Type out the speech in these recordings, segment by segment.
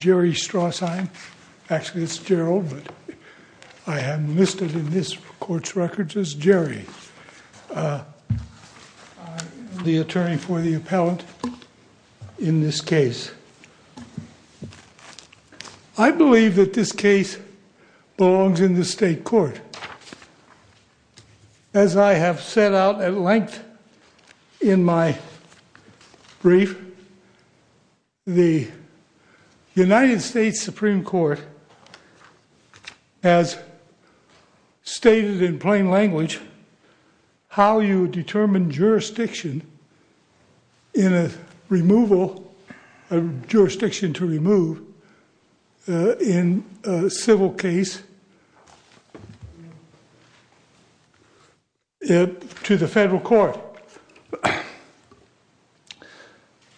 jerry straw sign actually it's gerald but i haven't missed it in this court's records as jerry the attorney for the appellant in this case i believe that this case belongs in the state court and as i have set out at length in my brief the united states supreme court has stated in plain language how you determine jurisdiction in a removal a jurisdiction to remove in a civil case to the federal court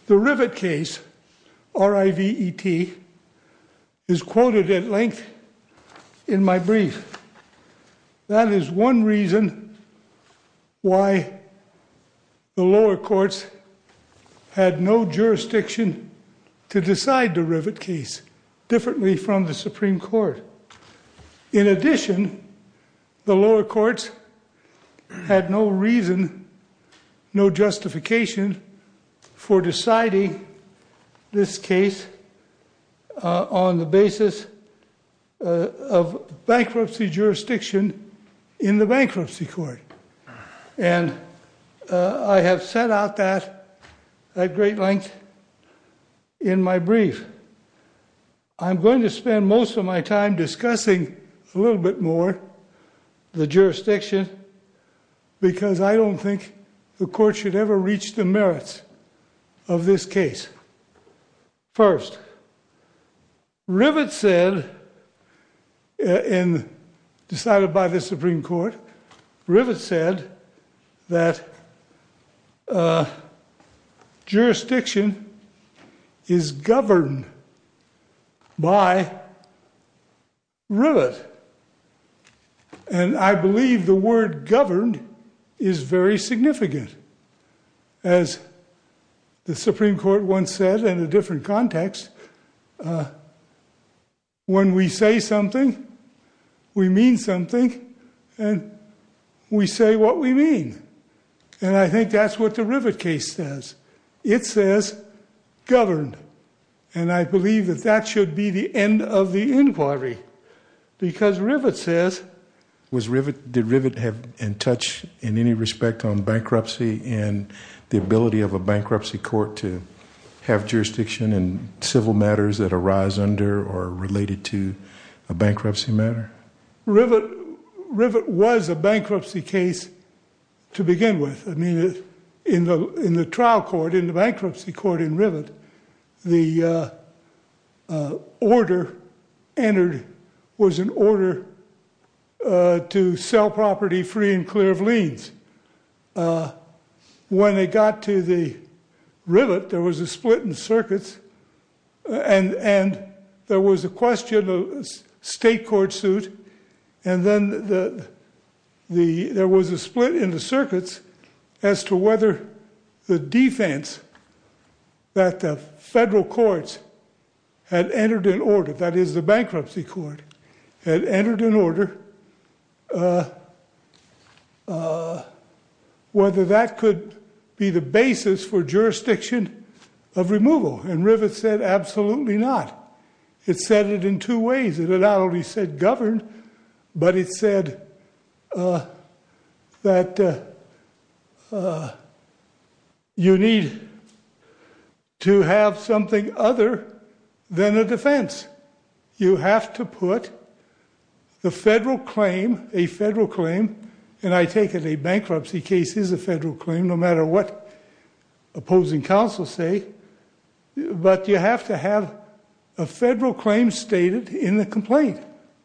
the rivet case r-i-v-e-t is quoted at length in my brief that is one reason why the lower courts had no jurisdiction to decide the rivet case differently from the supreme court in addition the lower courts had no reason no justification for deciding this case uh on the basis of bankruptcy jurisdiction in the bankruptcy court and i have set out that at great length in my brief i'm going to spend most of my time discussing a little bit more the jurisdiction because i don't think the court should ever reach the merits of this case first rivet said in decided by the supreme court rivet said that jurisdiction is governed by rivet and i believe the word governed is very significant as the supreme court once said in a different context when we say something we mean something and we say what we mean and i think that's what the rivet case says it says governed and i believe that that should be the end of the inquiry because rivet says was rivet did rivet have in touch in any respect on bankruptcy and the ability of a bankruptcy court to have jurisdiction and civil matters that arise under or related to a bankruptcy matter rivet rivet was a bankruptcy case to begin with i mean in the in the trial court in the bankruptcy court in rivet the uh order entered was an order uh to sell property free and clear of liens uh when they got to the rivet there was a split in the circuits and and there was a question of state court suit and then the the there was a split in the circuits as to whether the defense that the federal courts had entered in order that is the bankruptcy court had entered in order uh uh whether that could be the basis for jurisdiction of removal and rivet said absolutely not it said it in two ways it had already said governed but it said uh that uh uh you need to have something other than a defense you have to put the federal claim a federal claim and i take it a bankruptcy case is a federal claim no matter what opposing counsel say but you have to have a federal claim stated in the complaint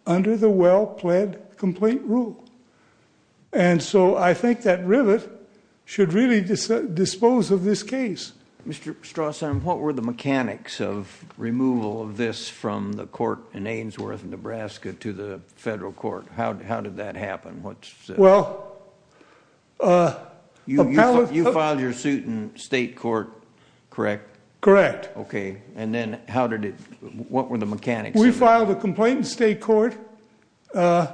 under the well-pled complaint rule and so i think that rivet should really dispose of this case mr strawson what were the mechanics of removal of this from the court in aynsworth nebraska to the federal court how did that happen what's well uh you you filed your state court correct correct okay and then how did it what were the mechanics we filed a complaint in state court uh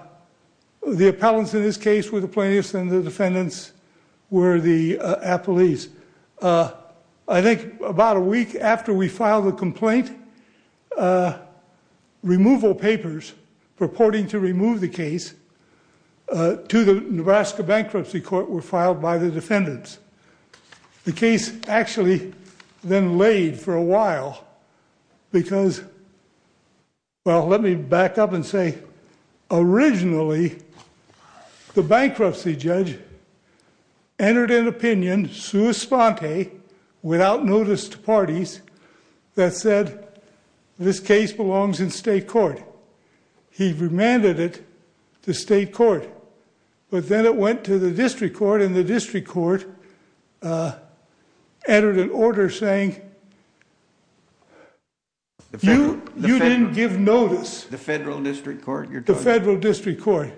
the appellants in this case were the plaintiffs and the defendants were the uh police uh i think about a week after we filed a complaint uh removal papers purporting to remove the case uh to the nebraska bankruptcy court were filed by the defendants the case actually then laid for a while because well let me back up and say originally the bankruptcy judge entered an opinion sua sponte without notice to parties that said this case belongs in state court he remanded it to state court but then it went to the district court and the district court uh entered an order saying you didn't give notice the federal district court the federal district court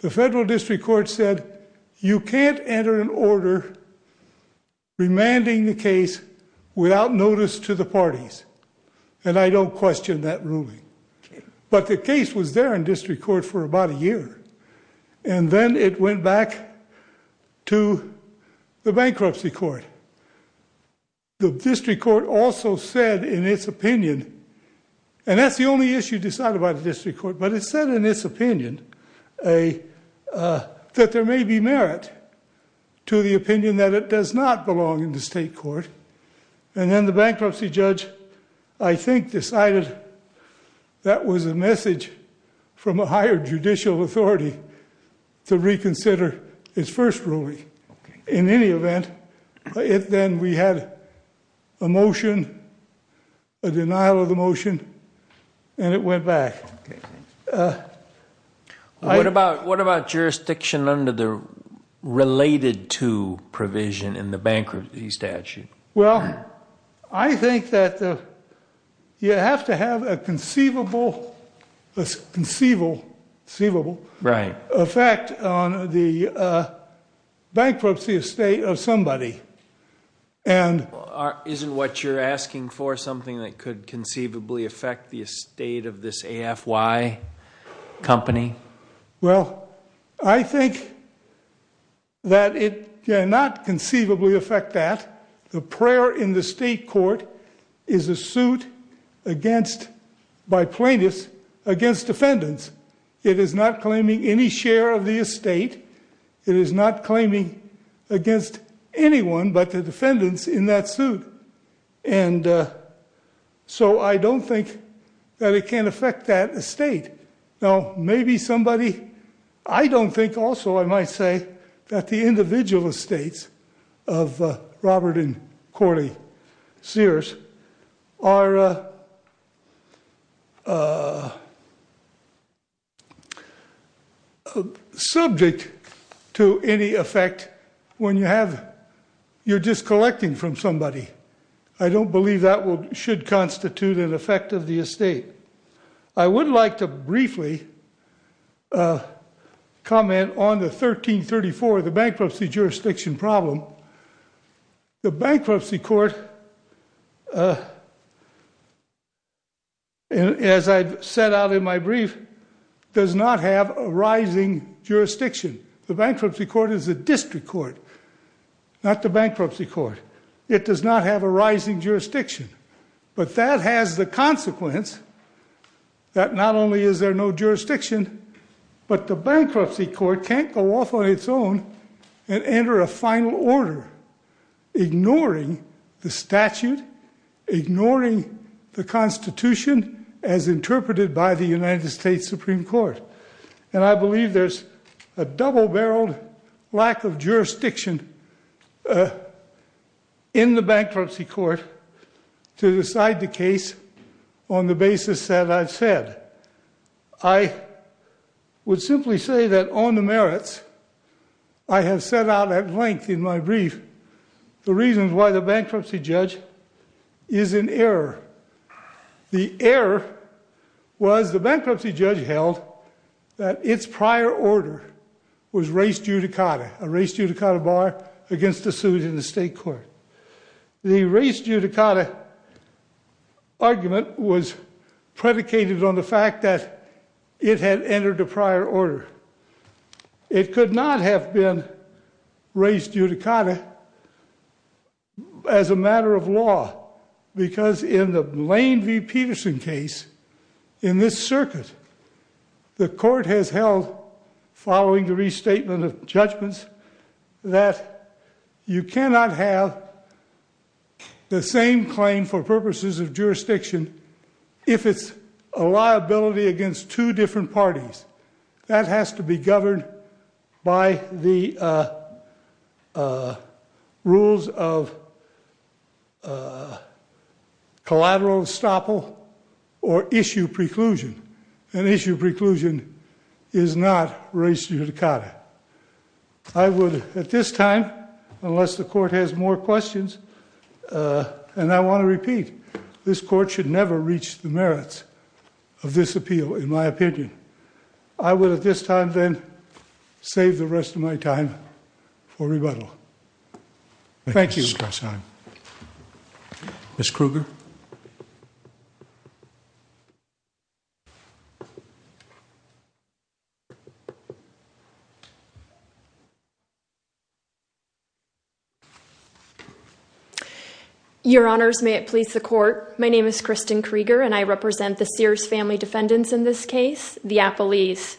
the federal district court said you can't enter an order remanding the case without notice to the parties and i don't question that ruling but the case was there in district court for about a year and then it went back to the bankruptcy court the district court also said in its opinion and that's the only issue decided by the district court but it said in its opinion a uh that there may be merit to the opinion that it does not belong in the state court and then the bankruptcy judge i think decided that was a message from a higher judicial authority to reconsider his first ruling in any event it then we had a motion a denial of the motion and it went back what about what about jurisdiction under the related to provision in the bankruptcy statute well i think that the you have to have a conceivable conceivable conceivable right effect on the bankruptcy estate of somebody and isn't what you're asking for something that could conceivably affect the estate of this afy company well i think that it cannot conceivably affect that the prayer in the state court is a suit against by plaintiffs against defendants it is not claiming any share of the estate it is not claiming against anyone but the defendants in that suit and so i don't think that it can affect that estate now maybe somebody i don't think also i might say that the individual estates of robert and corley sears are uh uh subject to any effect when you have you're just collecting from somebody i don't believe that will should constitute an effect of the estate i would like to briefly comment on the 1334 the bankruptcy jurisdiction problem the bankruptcy court uh as i've set out in my brief does not have a rising jurisdiction the bankruptcy court is a district court not the bankruptcy court it does not have a rising jurisdiction but that has the consequence that not only is there no jurisdiction but the bankruptcy court can't go off on its own and enter a final order ignoring the statute ignoring the constitution as interpreted by the united states supreme court and i believe there's a double-barreled lack of jurisdiction in the bankruptcy court to decide the case on the merits i have set out at length in my brief the reasons why the bankruptcy judge is in error the error was the bankruptcy judge held that its prior order was race judicata a race judicata bar against the suit in the state court the race judicata argument was predicated on the fact that it had entered a prior order it could not have been raised judicata as a matter of law because in the lane v peterson case in this circuit the court has held following the restatement of judgments that you cannot have the same claim for purposes of jurisdiction if it's a liability against two different parties that has to be governed by the uh uh rules of uh collateral estoppel or issue preclusion an issue preclusion is not race judicata i would at this time unless the court has more questions uh and i want to repeat this court should never reach the merits of this appeal in my opinion i would at this time then save the rest of my time for rebuttal thank you miss kruger your honors may it please the court my name is kristin krieger and i represent the sears family defendants in this case the appellees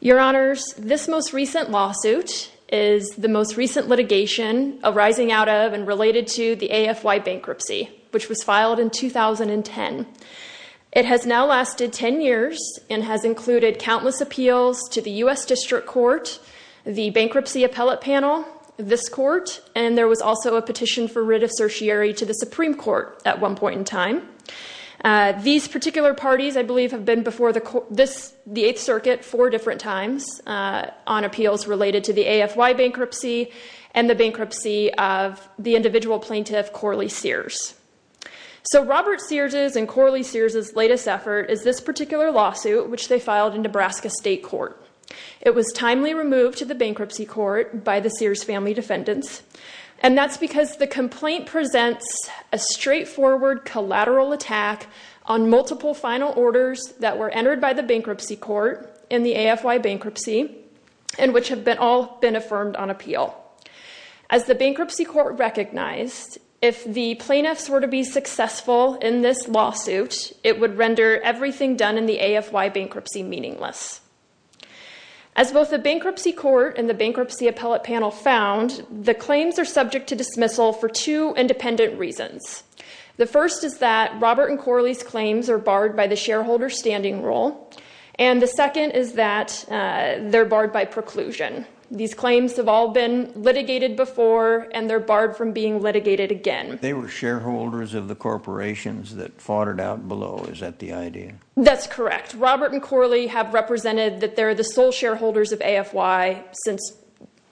your honors this most recent lawsuit is the most recent litigation arising out of and related to the afy bankruptcy which was filed in 2010 it has now lasted 10 years and has included countless appeals to the u.s district court the bankruptcy appellate panel this court and there was also a petition for writ of certiorari to the supreme court at one point in time these particular parties i believe have been before the this the eighth circuit four different times on appeals related to the afy bankruptcy and the bankruptcy of the individual plaintiff corley sears so robert sears's and corley sears's latest effort is this particular lawsuit which they filed in nebraska state court it was timely removed to the bankruptcy court by the sears family defendants and that's because the complaint presents a straightforward collateral attack on multiple final orders that were entered by the bankruptcy court in the afy bankruptcy and which have been all been affirmed on appeal as the bankruptcy court recognized if the plaintiffs were to be successful in this lawsuit it would render everything done the afy bankruptcy meaningless as both the bankruptcy court and the bankruptcy appellate panel found the claims are subject to dismissal for two independent reasons the first is that robert and corley's claims are barred by the shareholder standing rule and the second is that they're barred by preclusion these claims have all been litigated before and they're barred from being litigated again they were shareholders of the corporations that fought it out below is that the idea that's correct robert and corley have represented that they're the sole shareholders of afy since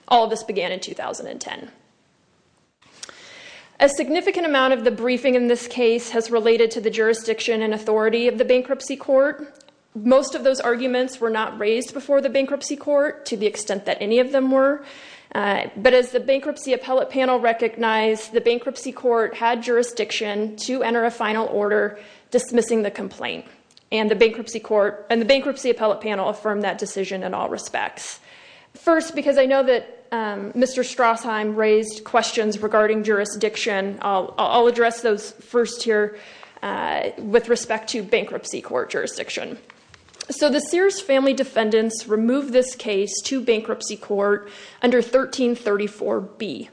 all this began in 2010. a significant amount of the briefing in this case has related to the jurisdiction and authority of the bankruptcy court most of those arguments were not raised before the bankruptcy court to the extent that any of them were but as the bankruptcy appellate panel recognized the bankruptcy court had jurisdiction to enter a final order dismissing the complaint and the bankruptcy court and the bankruptcy appellate panel affirmed that decision in all respects first because i know that mr strassheim raised questions regarding jurisdiction i'll address those first here with respect to bankruptcy court jurisdiction so the sears family defendants removed this case to bankruptcy court under 1334 b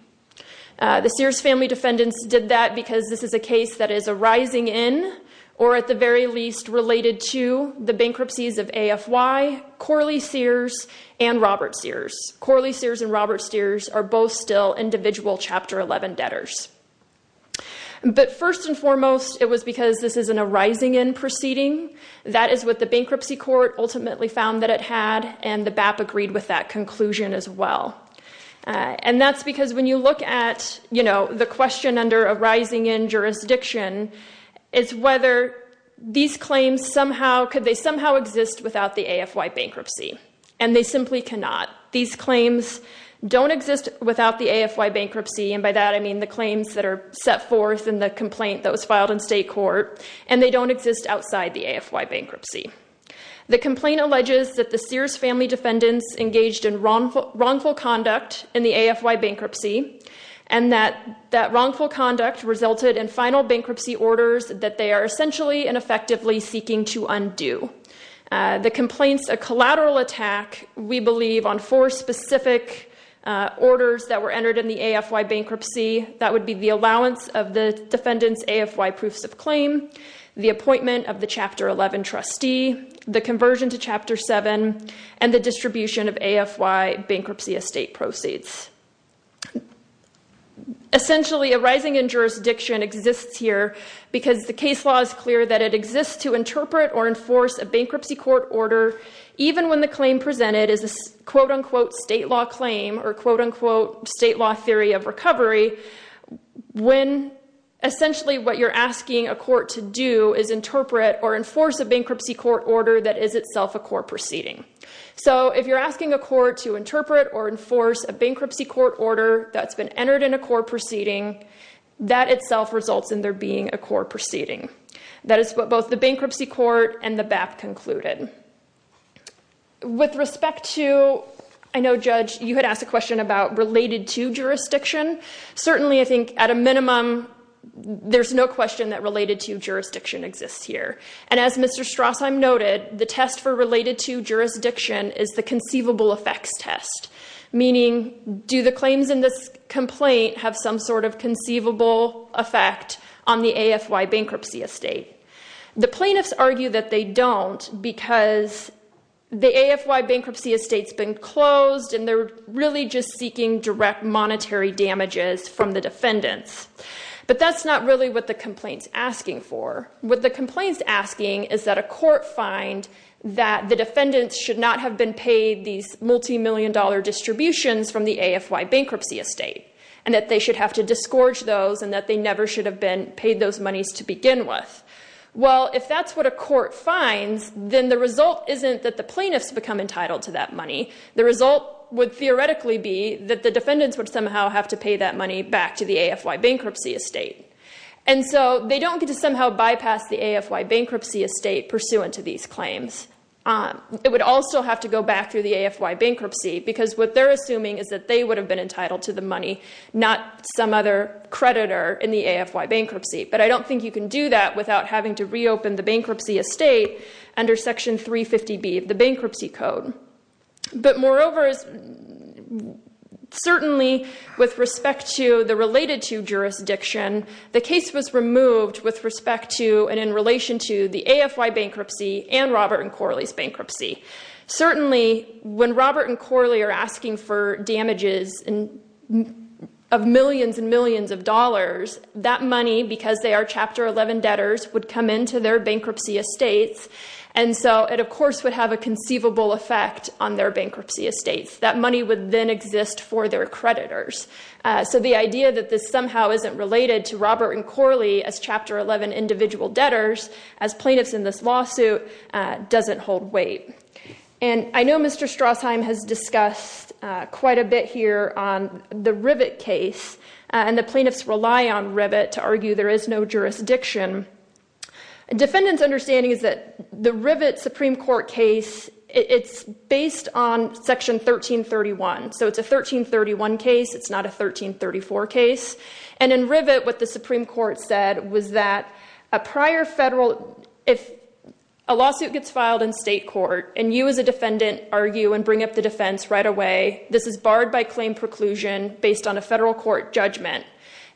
the sears family defendants did that because this is a case that is arising in or at the very least related to the bankruptcies of afy corley sears and robert sears corley sears and robert steers are both still individual chapter 11 debtors but first and foremost it was because this is an arising in proceeding that is what the bankruptcy court ultimately found that it had and the bap agreed with that conclusion as well and that's because when you look at you know the question under a rising in jurisdiction is whether these claims somehow could they somehow exist without the afy bankruptcy and they simply cannot these claims don't exist without the afy bankruptcy and by that i mean the claims that are set forth in the complaint that was filed in state court and they don't exist outside the afy bankruptcy the complaint alleges that the sears family defendants engaged in wrongful wrongful conduct in the afy bankruptcy and that that wrongful conduct resulted in final bankruptcy orders that they are essentially and effectively seeking to undo the complaints a collateral attack we believe on four specific orders that were entered in the afy bankruptcy that would be the allowance of the defendants afy proofs of claim the appointment of the chapter 11 trustee the conversion to chapter 7 and the distribution of afy bankruptcy estate proceeds essentially a rising in jurisdiction exists here because the case law is clear that it exists to interpret or enforce a bankruptcy court order even when the claim presented is a quote-unquote state law claim or quote-unquote state law theory of recovery when essentially what you're asking a court to do is interpret or enforce a bankruptcy court order that is itself a court proceeding so if you're asking a court to interpret or enforce a bankruptcy court order that's been entered in a court proceeding that itself results in there being a court proceeding that is what you had asked a question about related to jurisdiction certainly i think at a minimum there's no question that related to jurisdiction exists here and as mr strass i'm noted the test for related to jurisdiction is the conceivable effects test meaning do the claims in this complaint have some sort of conceivable effect on the afy bankruptcy estate the plaintiffs argue that they don't because the afy bankruptcy estate's been closed and they're really just seeking direct monetary damages from the defendants but that's not really what the complaint's asking for what the complaint's asking is that a court find that the defendants should not have been paid these multi-million dollar distributions from the afy bankruptcy estate and that they should have to disgorge those and that they never should have been paid those monies to begin with well if that's what a court finds then the result isn't that the plaintiffs become entitled to that money the result would theoretically be that the defendants would somehow have to pay that money back to the afy bankruptcy estate and so they don't get to somehow bypass the afy bankruptcy estate pursuant to these claims um it would also have to go back through the afy bankruptcy because what they're assuming is that they would have been entitled to the money not some other creditor in the afy bankruptcy but i don't think you can do that without having to reopen the bankruptcy estate under section 350b of the bankruptcy code but moreover is certainly with respect to the related to jurisdiction the case was removed with respect to and in relation to the afy bankruptcy and robert and corley's bankruptcy certainly when robert and corley are asking for damages and of millions and millions of dollars that money because they are chapter 11 debtors would come into their bankruptcy estates and so it of course would have a conceivable effect on their bankruptcy estates that money would then exist for their creditors so the idea that this somehow isn't related to robert and corley as chapter 11 individual debtors as plaintiffs in this lawsuit doesn't hold weight and i know mr strassheim has discussed quite a bit here on the rivet case and the plaintiffs rely on rivet to argue there is no jurisdiction defendants understanding is that the rivet supreme court case it's based on section 1331 so it's a 1331 case it's not a 1334 case and in rivet what the supreme court said was that a prior federal if a lawsuit gets filed in state court and you as a defendant argue and bring up the defense right away this is barred by claim preclusion based on a federal court judgment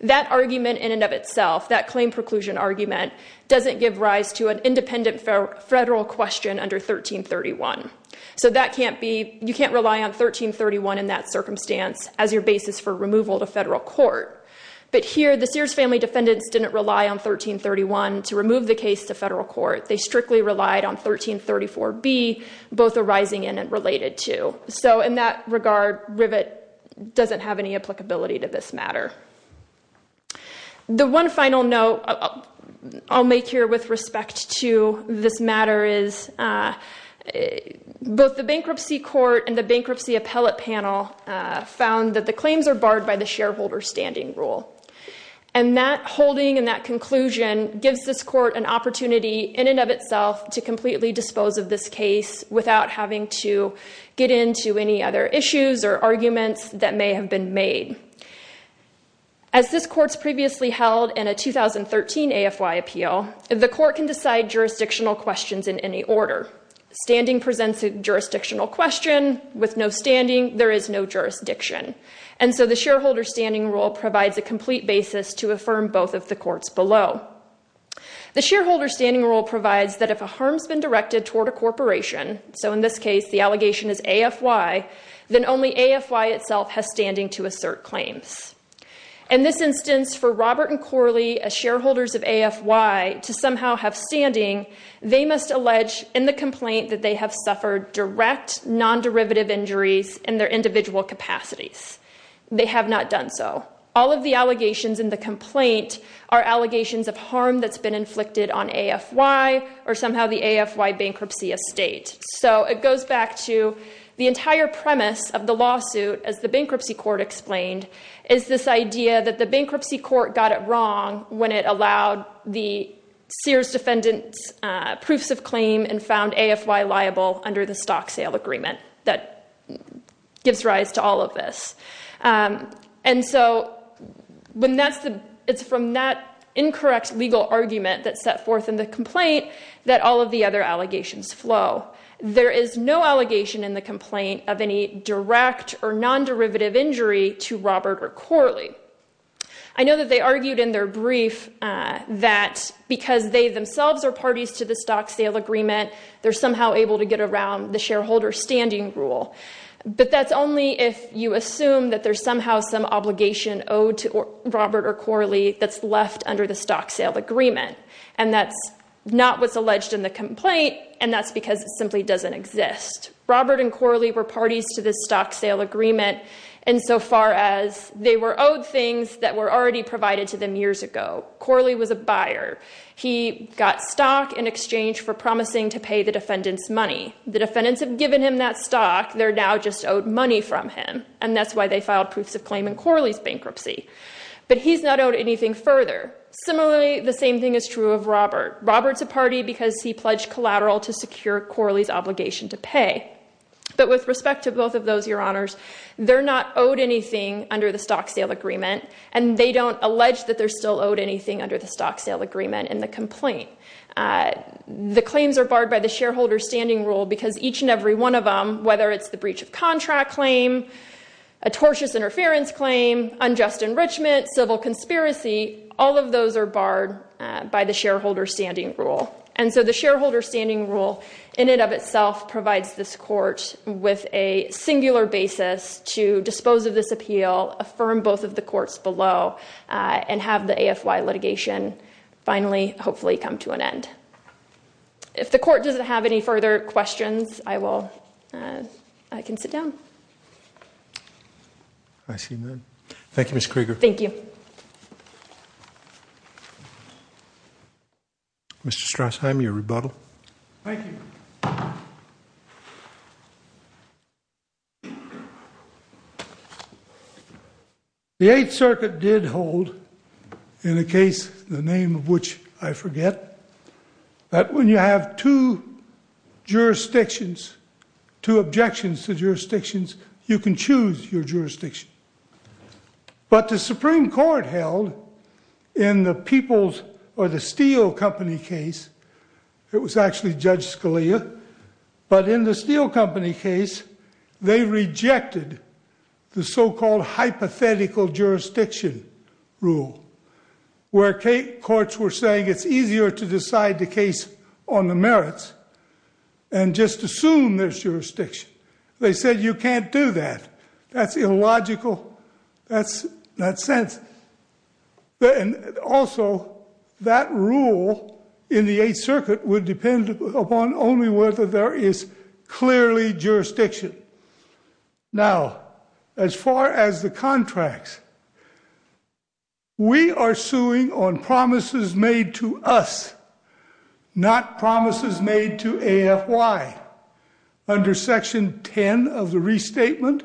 that argument in and of itself that claim preclusion argument doesn't give rise to an independent federal question under 1331 so that can't be you can't rely on 1331 in that circumstance as your basis for removal to federal court but here the sears family defendants didn't rely on 1331 to remove the case to federal court they strictly relied on 1334 b both arising in and related to so in that regard rivet doesn't have any applicability to this matter the one final note i'll make here with respect to this matter is uh both the bankruptcy court and the bankruptcy appellate panel uh found that the claims are barred by the shareholder standing rule and that holding and that conclusion gives this court an opportunity in and of itself to completely dispose of this case without having to get into any other issues or arguments that may have been made as this court's previously held in a 2013 afy appeal the court can decide jurisdictional questions in any order standing presents a jurisdictional question with no standing rule provides a complete basis to affirm both of the courts below the shareholder standing rule provides that if a harm's been directed toward a corporation so in this case the allegation is afy then only afy itself has standing to assert claims in this instance for robert and corley as shareholders of afy to somehow have standing they must allege in the complaint that they have suffered direct non-derivative injuries in their individual capacities they have not done so all of the allegations in the complaint are allegations of harm that's been inflicted on afy or somehow the afy bankruptcy estate so it goes back to the entire premise of the lawsuit as the bankruptcy court explained is this idea that the bankruptcy court got it wrong when it allowed the sears defendant proofs of claim and found afy liable under the stock sale agreement that gives rise to all of this and so when that's the it's from that incorrect legal argument that's set forth in the complaint that all of the other allegations flow there is no allegation in the complaint of any direct or non-derivative injury to robert or corley i know that they argued in their brief that because they themselves are parties to the stock sale agreement they're somehow able to get around the shareholder standing rule but that's only if you assume that there's somehow some obligation owed to robert or corley that's left under the stock sale agreement and that's not what's alleged in the complaint and that's because it simply doesn't exist robert and corley were parties to this stock sale agreement insofar as they were owed things that were already provided to them years ago corley was a buyer he got stock in exchange for promising to pay the defendant's money the defendants have given him that stock they're now just owed money from him and that's why they filed proofs of claim in corley's bankruptcy but he's not owed anything further similarly the same thing is true of robert robert's a party because he pledged collateral to secure corley's obligation to pay but with respect to both of those your honors they're not owed anything under the stock sale agreement and they don't allege that they're still owed anything under the stock sale agreement in the complaint the claims are barred by the shareholder standing rule because each and every one of them whether it's the breach of contract claim a tortious interference claim unjust enrichment civil conspiracy all of those are barred by the shareholder standing rule and so the shareholder standing rule in and of itself provides this court with a singular basis to dispose of this appeal affirm both of the courts below and have the afy litigation finally hopefully come to an end if the court doesn't have any further questions i will i can sit down i see them thank you miss krieger thank you mr strassheim your rebuttal thank you the eighth circuit did hold in a case the name of which i forget that when you have two jurisdictions two objections to jurisdictions you can choose your jurisdiction but the supreme court held in the people's or the steel company case it was actually judge scalia but in the steel company case they rejected the so-called hypothetical jurisdiction rule where courts were saying it's easier to decide the case on the merits and just assume there's jurisdiction they said you can't do that that's illogical that's not sense but and also that rule in the eighth circuit would depend upon only whether there is clearly jurisdiction now as far as the contracts we are suing on promises made to us not promises made to afy under section 10 of the restatement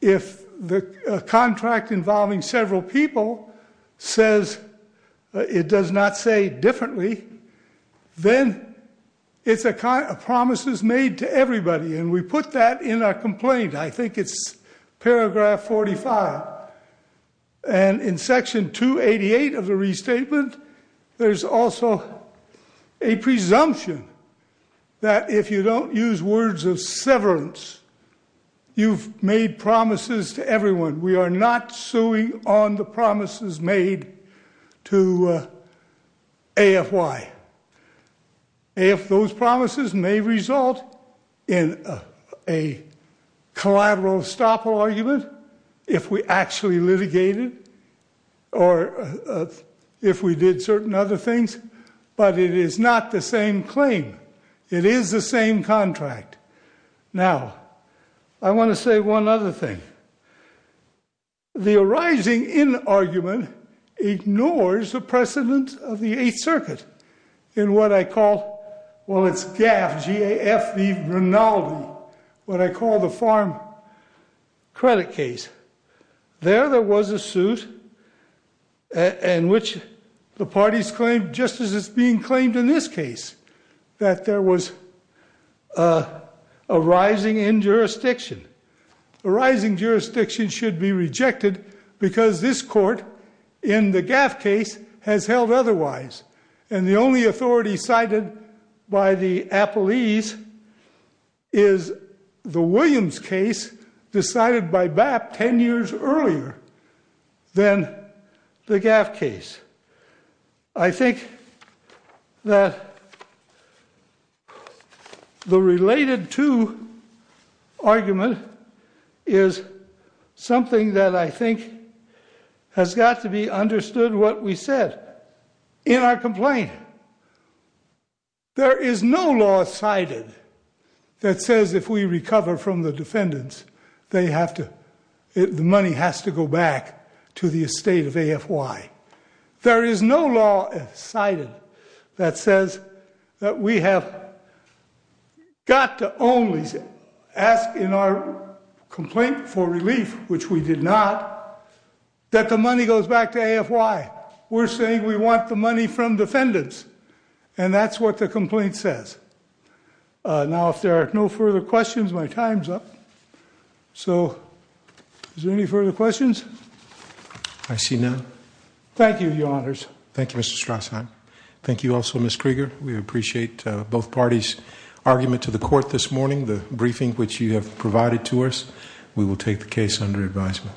if the contract involving several people says it does not say differently then it's a kind of promises made to everybody and we put that in our complaint i think it's paragraph 45 and in section 288 of the restatement there's also a presumption that if you don't use words of severance you've made promises to everyone we are not suing on the promises made to afy if those promises may result in a collateral estoppel argument if we actually litigated or if we did certain other things but it is not the same claim it is the same contract now i want to say one other thing the arising in argument ignores the precedent of the eighth circuit in what i call well it's GAF what i call the farm credit case there there was a suit in which the parties claimed just as it's being claimed in this case that there was a rising in jurisdiction arising jurisdiction should be rejected because this court in the appellees is the williams case decided by BAP 10 years earlier than the GAF case i think that the related to argument is something that i think has got to be understood what we said in our complaint there is no law cited that says if we recover from the defendants they have to the money has to go back to the estate of afy there is no law cited that says that we have got to only ask in our complaint for relief which we did not that the money goes back to afy we're saying we want the money from defendants and that's what the complaint says now if there are no further questions my time's up so is there any further questions i see none thank you your honors thank you mr strassen thank you also miss krieger we appreciate both parties argument to the court this morning the briefing which you have provided to us we will take the case under advisement